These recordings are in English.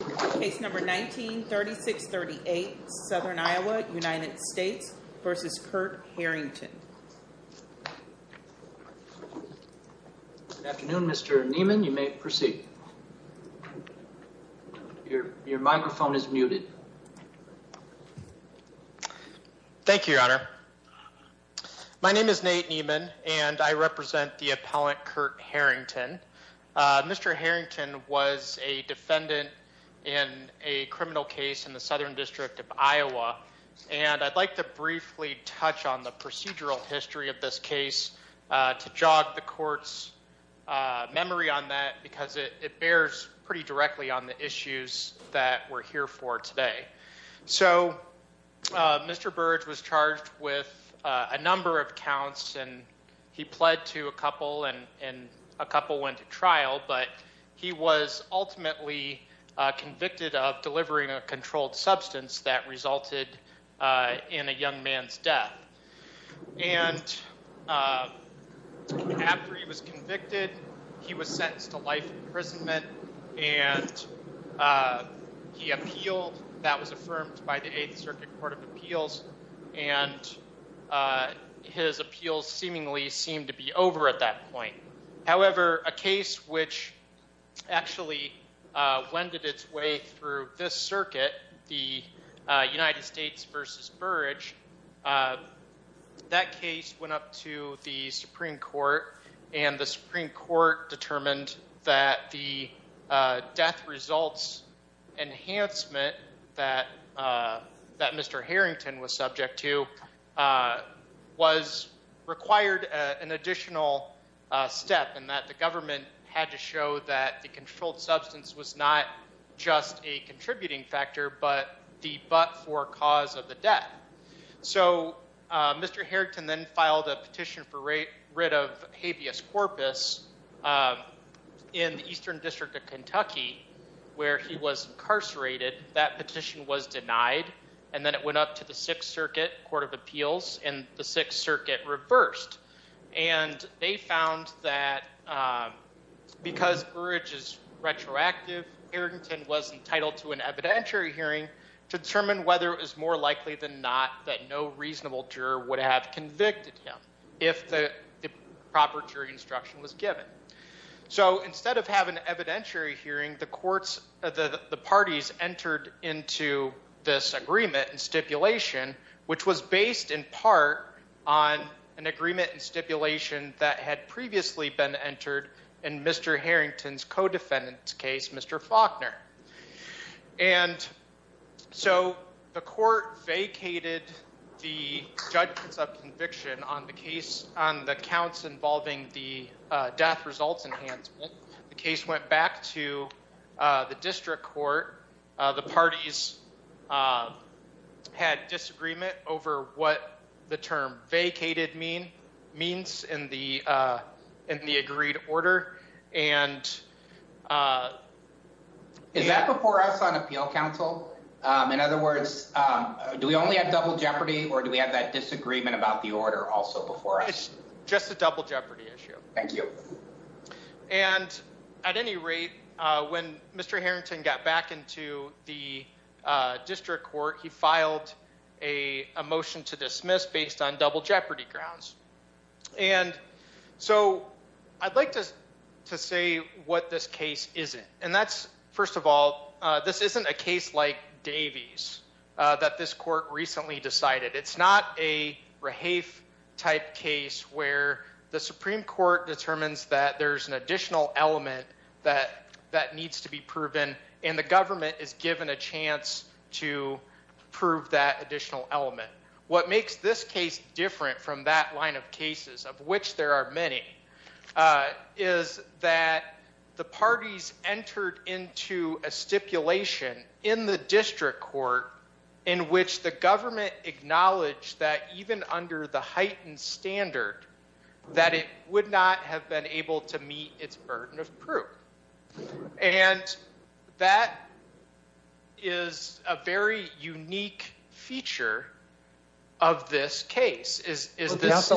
Good afternoon, Mr. Niemann. You may proceed. Your microphone is muted. Thank you, Your Honor. My name is Nate Niemann, and I represent the appellant Kurt Harrington. Mr. Harrington was a defendant in a criminal case in the Southern District of Iowa, and I'd like to briefly touch on the procedural history of this case to jog the court's memory on that because it bears pretty directly on the issues that we're here for today. So Mr. Burge was charged with a number of counts, and he pled to a couple, and a couple went to trial, but he was ultimately convicted of delivering a controlled substance that resulted in a young man's death. And after he was convicted, he was sentenced to life imprisonment, and he appealed. That was affirmed by the Eighth Circuit Court of Appeals, and his appeals seemingly seemed to be over at that point. However, a case which actually wended its way through this circuit, the United States v. Burge, that case went up to the Supreme Court, and the Supreme Court determined that the death results enhancement that Mr. Harrington was subject to was required an additional step in that the government had to show that the controlled substance was not just a contributing factor but the but-for cause of the death. So Mr. Harrington then filed a petition for rid of habeas corpus in the Eastern District of Kentucky where he was incarcerated. That petition was denied, and then it went up to the Sixth Circuit Court of Appeals, and the Sixth Circuit reversed. And they found that because Burge is retroactive, Harrington was entitled to an evidentiary hearing to determine whether it was more likely than not that no reasonable juror would have convicted him if the proper jury instruction was given. So instead of having an evidentiary hearing, the parties entered into this agreement and stipulation, which was based in part on an agreement and stipulation that had previously been entered in Mr. Harrington's co-defendant's case, Mr. Faulkner. And so the court vacated the judgments of conviction on the case on the counts involving the death results enhancement. The case went back to the district court. The parties had disagreement over what the term vacated means in the agreed order. Is that before us on Appeal Council? In other words, do we only have double jeopardy, or do we have that disagreement about the order also before us? It's just a double jeopardy issue. Thank you. And at any rate, when Mr. Harrington got back into the district court, he filed a motion to dismiss based on double jeopardy grounds. And so I'd like to say what this case isn't. And that's, first of all, this isn't a case like Davies that this court recently decided. It's not a Rahafe-type case where the Supreme Court determines that there's an additional element that needs to be proven, and the government is given a chance to prove that additional element. What makes this case different from that line of cases, of which there are many, is that the parties entered into a stipulation in the district court in which the government acknowledged that even under the heightened standard, that it would not have been able to meet its burden of proof. And that is a very unique feature of this case. Judge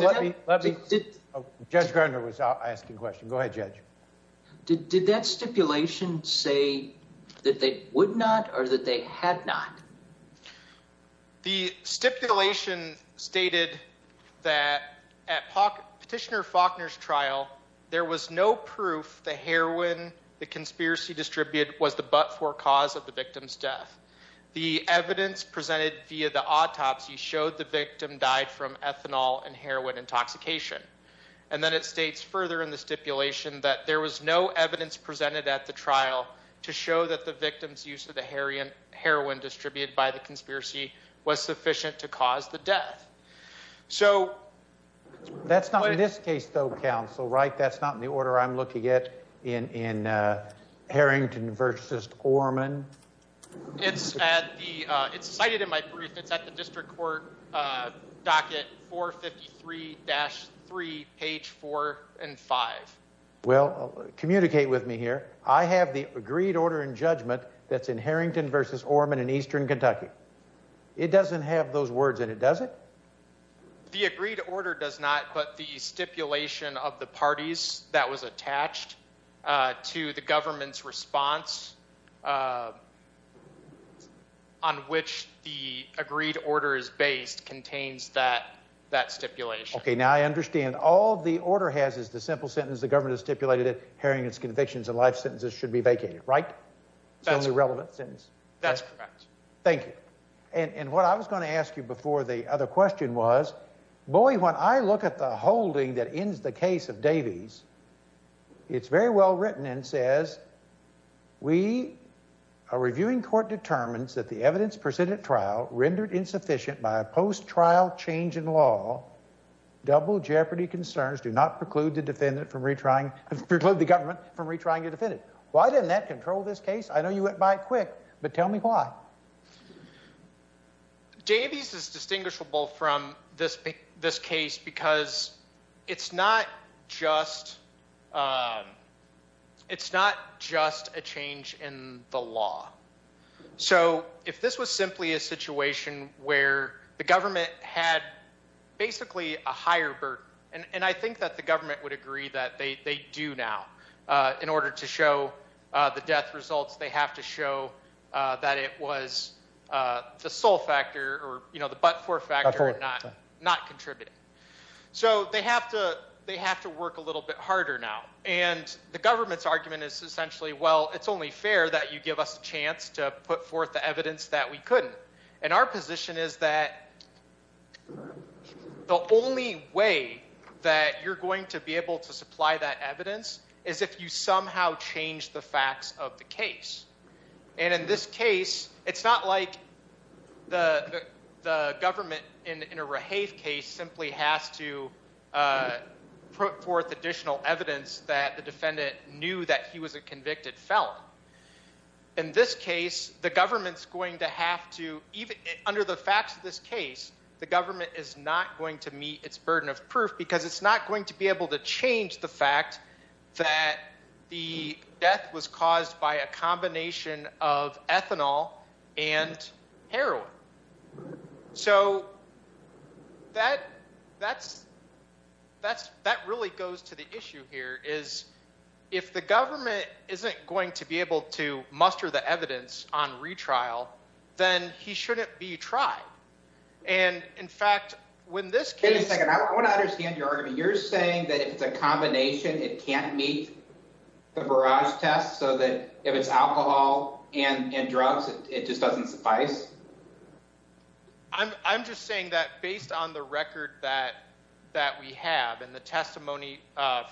Gardner was asking a question. Go ahead, Judge. Did that stipulation say that they would not or that they had not? The stipulation stated that at Petitioner Faulkner's trial, there was no proof the heroin the conspiracy distributed was the but-for cause of the victim's death. The evidence presented via the autopsy showed the victim died from ethanol and heroin intoxication. And then it states further in the stipulation that there was no evidence presented at the trial to show that the victim's use of the heroin distributed by the conspiracy was sufficient to cause the death. That's not in this case, though, counsel, right? That's not in the order I'm looking at in Harrington v. Orman. It's cited in my brief. It's at the district court docket 453-3, page 4 and 5. Well, communicate with me here. I have the agreed order in judgment that's in Harrington v. Orman in eastern Kentucky. It doesn't have those words in it, does it? The agreed order does not, but the stipulation of the parties that was attached to the government's response on which the agreed order is based contains that stipulation. Okay, now I understand. All the order has is the simple sentence. The government has stipulated that Harrington's convictions and life sentences should be vacated, right? That's correct. Thank you. And what I was going to ask you before the other question was, boy, when I look at the holding that ends the case of Davies, it's very well written and says, we, a reviewing court, determines that the evidence presented at trial rendered insufficient by a post-trial change in law. Double jeopardy concerns do not preclude the defendant from retrying, preclude the government from retrying a defendant. Why didn't that control this case? I know you went by it quick, but tell me why. Davies is distinguishable from this case because it's not just a change in the law. So if this was simply a situation where the government had basically a higher burden, and I think that the government would agree that they do now. In order to show the death results, they have to show that it was the sole factor or the but-for factor not contributing. So they have to work a little bit harder now. And the government's argument is essentially, well, it's only fair that you give us a chance to put forth the evidence that we couldn't. And our position is that the only way that you're going to be able to supply that evidence is if you somehow change the facts of the case. And in this case, it's not like the government in a Rahave case simply has to put forth additional evidence that the defendant knew that he was a convicted felon. In this case, the government's going to have to, under the facts of this case, the government is not going to meet its burden of proof because it's not going to be able to change the fact that the death was caused by a combination of ethanol and heroin. So that really goes to the issue here is if the government isn't going to be able to muster the evidence on retrial, then he shouldn't be tried. And in fact, when this case— Wait a second. I want to understand your argument. You're saying that if it's a combination, it can't meet the barrage test so that if it's alcohol and drugs, it just doesn't suffice? I'm just saying that based on the record that we have and the testimony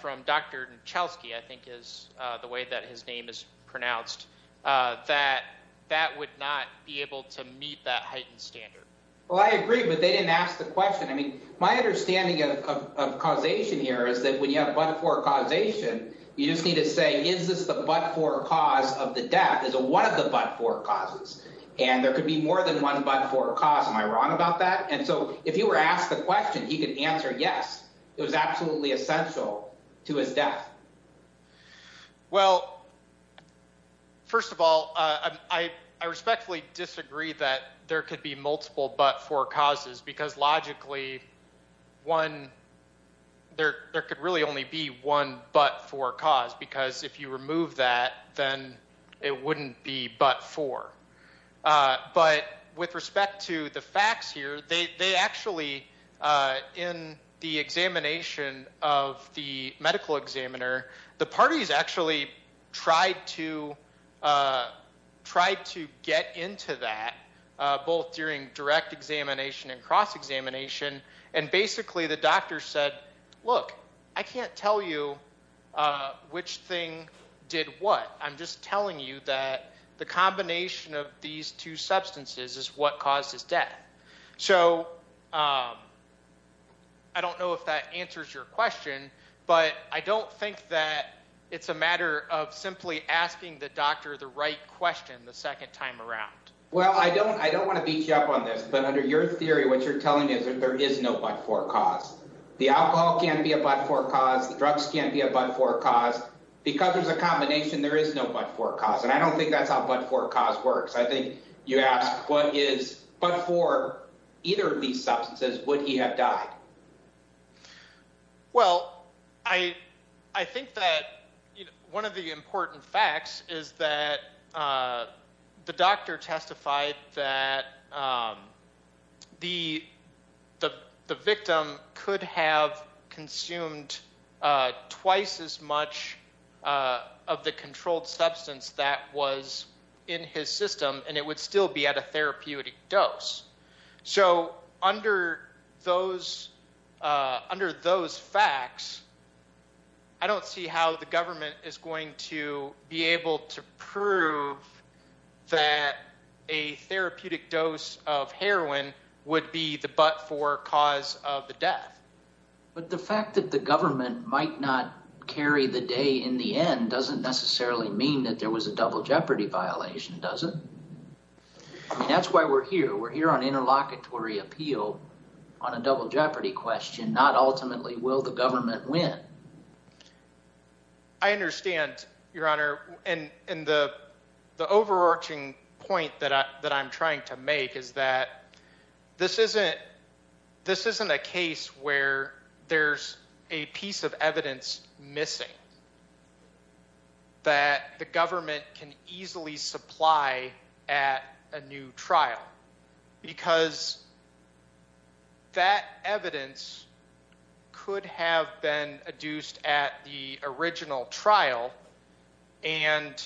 from Dr. Nachelski, I think is the way that his name is pronounced, that that would not be able to meet that heightened standard. Well, I agree, but they didn't ask the question. I mean, my understanding of causation here is that when you have but-for causation, you just need to say, is this the but-for cause of the death? Is it one of the but-for causes? And there could be more than one but-for cause. Am I wrong about that? And so if he were asked the question, he could answer yes, it was absolutely essential to his death. Well, first of all, I respectfully disagree that there could be multiple but-for causes because logically there could really only be one but-for cause because if you remove that, then it wouldn't be but-for. But with respect to the facts here, they actually, in the examination of the medical examiner, the parties actually tried to get into that, both during direct examination and cross-examination, and basically the doctor said, look, I can't tell you which thing did what. I'm just telling you that the combination of these two substances is what caused his death. So I don't know if that answers your question, but I don't think that it's a matter of simply asking the doctor the right question the second time around. Well, I don't want to beat you up on this, but under your theory, what you're telling me is that there is no but-for cause. The alcohol can't be a but-for cause. The drugs can't be a but-for cause. Because there's a combination, there is no but-for cause, and I don't think that's how but-for cause works. I think you asked, but for either of these substances, would he have died? Well, I think that one of the important facts is that the doctor testified that the victim could have consumed twice as much of the controlled substance that was in his system, and it would still be at a therapeutic dose. So under those facts, I don't see how the government is going to be able to prove that a therapeutic dose of heroin would be the but-for cause of the death. But the fact that the government might not carry the day in the end doesn't necessarily mean that there was a double jeopardy violation, does it? That's why we're here. We're here on interlocutory appeal on a double jeopardy question, not ultimately will the government win. I understand, Your Honor, and the overarching point that I'm trying to make is that this isn't a case where there's a piece of evidence missing that the government can easily supply at a new trial. Because that evidence could have been adduced at the original trial, and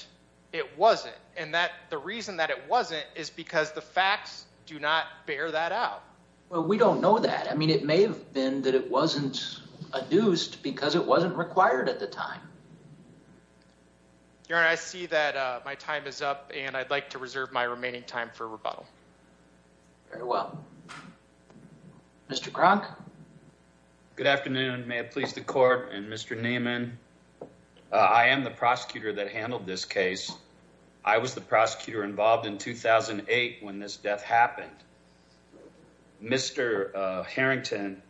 it wasn't. And the reason that it wasn't is because the facts do not bear that out. Well, we don't know that. I mean, it may have been that it wasn't adduced because it wasn't required at the time. Your Honor, I see that my time is up, and I'd like to reserve my remaining time for rebuttal. Very well. Mr. Cronk? Good afternoon. May it please the court and Mr. Neiman. I am the prosecutor that handled this case. I was the prosecutor involved in 2008 when this death happened. Mr. Harrington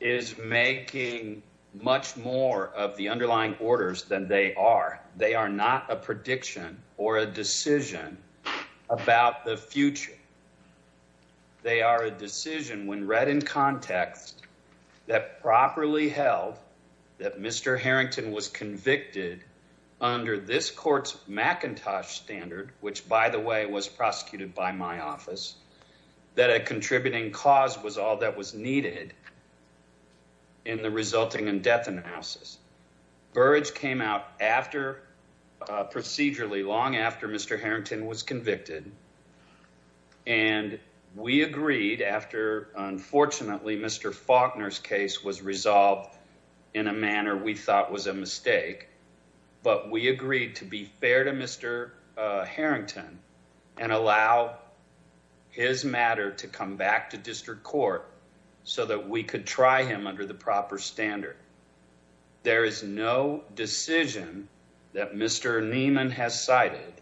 is making much more of the underlying orders than they are. They are not a prediction or a decision about the future. They are a decision when read in context that properly held that Mr. Harrington was convicted under this court's McIntosh standard, which, by the way, was prosecuted by my office, that a contributing cause was all that was needed in the resulting in death analysis. Burrage came out procedurally long after Mr. Harrington was convicted, and we agreed after, unfortunately, Mr. Faulkner's case was resolved in a manner we thought was a mistake, but we agreed to be fair to Mr. Harrington and allow his matter to come back to district court so that we could try him under the proper standard. There is no decision that Mr. Neiman has cited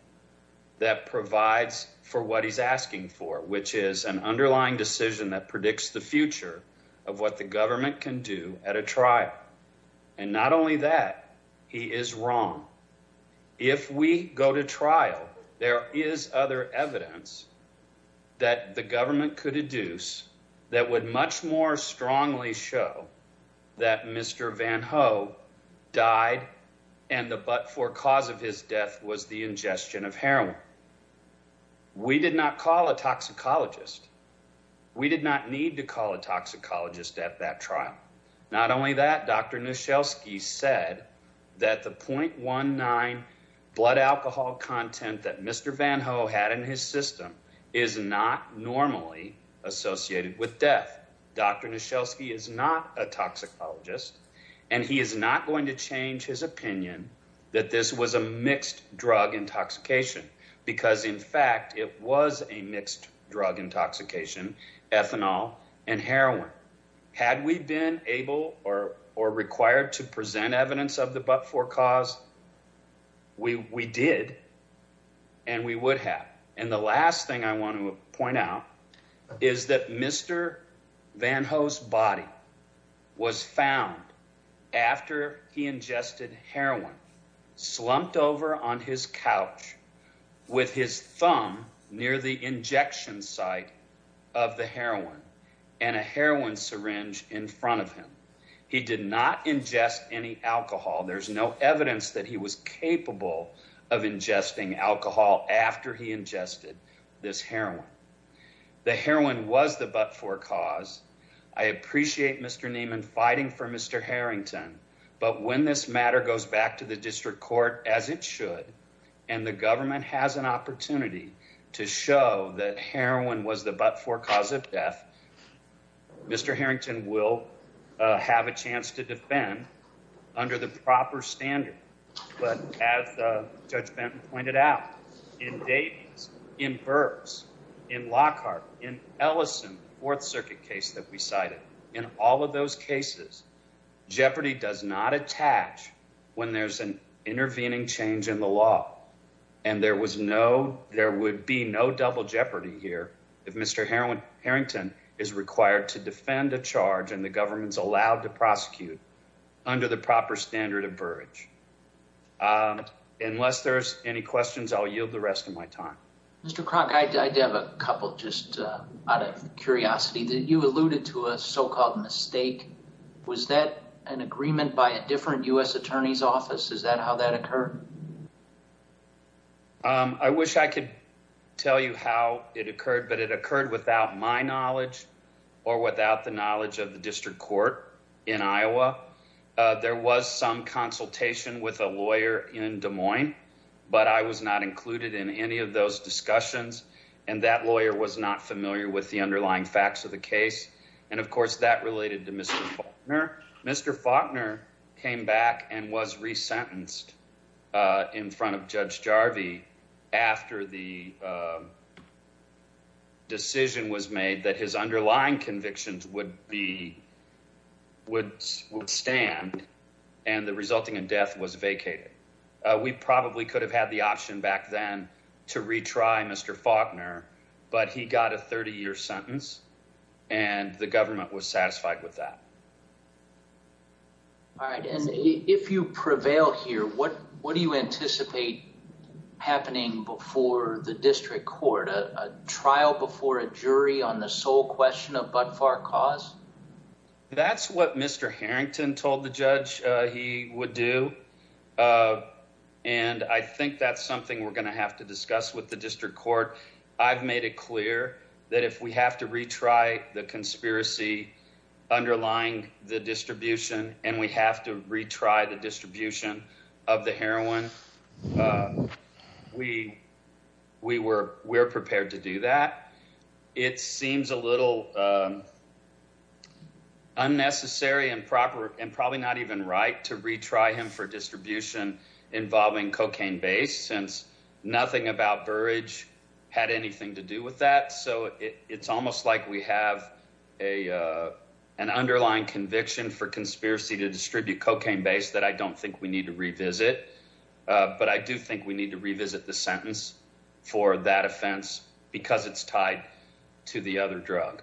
that provides for what he's asking for, which is an underlying decision that predicts the future of what the government can do at a trial. And not only that, he is wrong. If we go to trial, there is other evidence that the government could deduce that would much more strongly show that Mr. Van Ho died and the but-for cause of his death was the ingestion of heroin. We did not call a toxicologist. We did not need to call a toxicologist at that trial. Not only that, Dr. Nuschelski said that the 0.19 blood alcohol content that Mr. Van Ho had in his system is not normally associated with death. Dr. Nuschelski is not a toxicologist, and he is not going to change his opinion that this was a mixed drug intoxication because, in fact, it was a mixed drug intoxication, ethanol and heroin. Had we been able or required to present evidence of the but-for cause, we did, and we would have. And the last thing I want to point out is that Mr. Van Ho's body was found after he ingested heroin, slumped over on his couch with his thumb near the injection site of the heroin and a heroin syringe in front of him. He did not ingest any alcohol. There's no evidence that he was capable of ingesting alcohol after he ingested this heroin. The heroin was the but-for cause. I appreciate Mr. Neiman fighting for Mr. Harrington. But when this matter goes back to the district court, as it should, and the government has an opportunity to show that heroin was the but-for cause of death, Mr. Harrington will have a chance to defend under the proper standard. But as Judge Benton pointed out, in Davies, in Burks, in Lockhart, in Ellison, the Fourth Circuit case that we cited, in all of those cases, jeopardy does not attach when there's an intervening change in the law. And there would be no double jeopardy here if Mr. Harrington is required to defend a charge and the government's allowed to prosecute under the proper standard of Burrage. Unless there's any questions, I'll yield the rest of my time. Mr. Kroc, I have a couple just out of curiosity. You alluded to a so-called mistake. Was that an agreement by a different U.S. attorney's office? Is that how that occurred? I wish I could tell you how it occurred, but it occurred without my knowledge or without the knowledge of the district court in Iowa. There was some consultation with a lawyer in Des Moines, but I was not included in any of those discussions. And that lawyer was not familiar with the underlying facts of the case. And, of course, that related to Mr. Faulkner. Mr. Faulkner came back and was resentenced in front of Judge Jarvie after the decision was made that his underlying convictions would stand and the resulting death was vacated. We probably could have had the option back then to retry Mr. Faulkner, but he got a 30-year sentence, and the government was satisfied with that. All right. And if you prevail here, what do you anticipate happening before the district court? A trial before a jury on the sole question of Bud Far Cause? That's what Mr. Harrington told the judge he would do. And I think that's something we're going to have to discuss with the district court. I've made it clear that if we have to retry the conspiracy underlying the distribution and we have to retry the distribution of the heroin, we're prepared to do that. It seems a little unnecessary and probably not even right to retry him for distribution involving cocaine-based since nothing about Burrage had anything to do with that. So it's almost like we have an underlying conviction for conspiracy to distribute cocaine-based that I don't think we need to revisit. But I do think we need to revisit the sentence for that offense because it's tied to the other drug.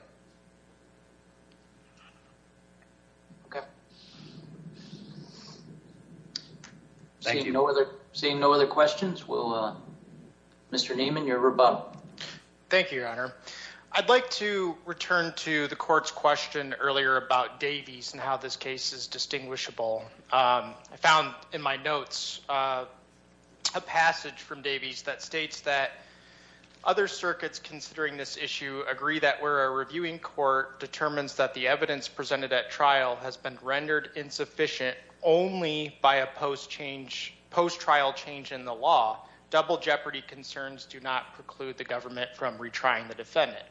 Seeing no other questions, Mr. Nieman, your rebuttal. Thank you, Your Honor. I'd like to return to the court's question earlier about Davies and how this case is distinguishable. I found in my notes a passage from Davies that states that other circuits considering this issue agree that where a reviewing court determines that the evidence presented at trial has been rendered insufficient only by a post-trial change in the law, double jeopardy concerns do not preclude the government from retrying the defendant.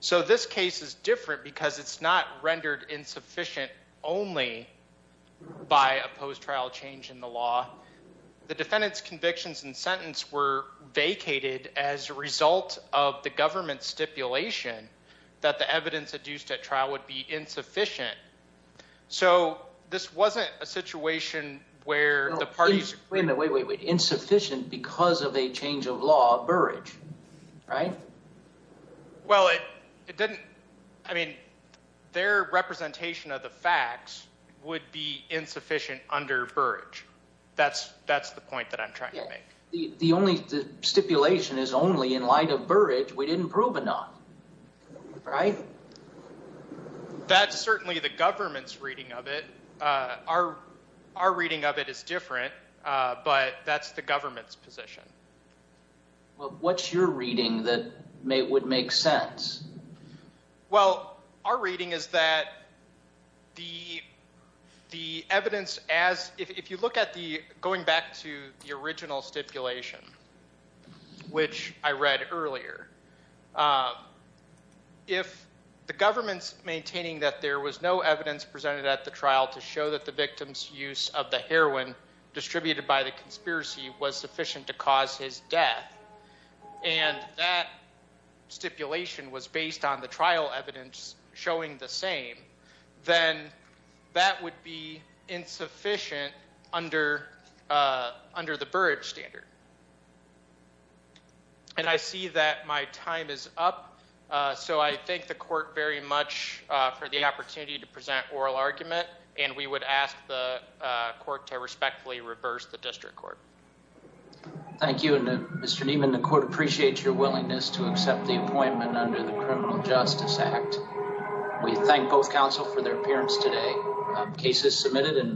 So this case is different because it's not rendered insufficient only by a post-trial change in the law. The defendant's convictions and sentence were vacated as a result of the government's stipulation that the evidence adduced at trial would be insufficient. So this wasn't a situation where the parties… Wait, wait, wait. Insufficient because of a change of law, Burrage, right? Well, it didn't… I mean, their representation of the facts would be insufficient under Burrage. That's the point that I'm trying to make. The stipulation is only in light of Burrage. We didn't prove enough, right? That's certainly the government's reading of it. Our reading of it is different, but that's the government's position. Well, what's your reading that would make sense? Well, our reading is that the evidence as… If you look at the… Going back to the original stipulation, which I read earlier, if the government's maintaining that there was no evidence presented at the trial to show that the victim's use of the heroin distributed by the conspiracy was sufficient to cause his death, and that stipulation was based on the trial evidence showing the same, then that would be insufficient under the Burrage standard. And I see that my time is up, so I thank the court very much for the opportunity to present oral argument, and we would ask the court to respectfully reverse the district court. Thank you, and Mr. Nieman, the court appreciates your willingness to accept the appointment under the Criminal Justice Act. We thank both counsel for their appearance today. Cases submitted and…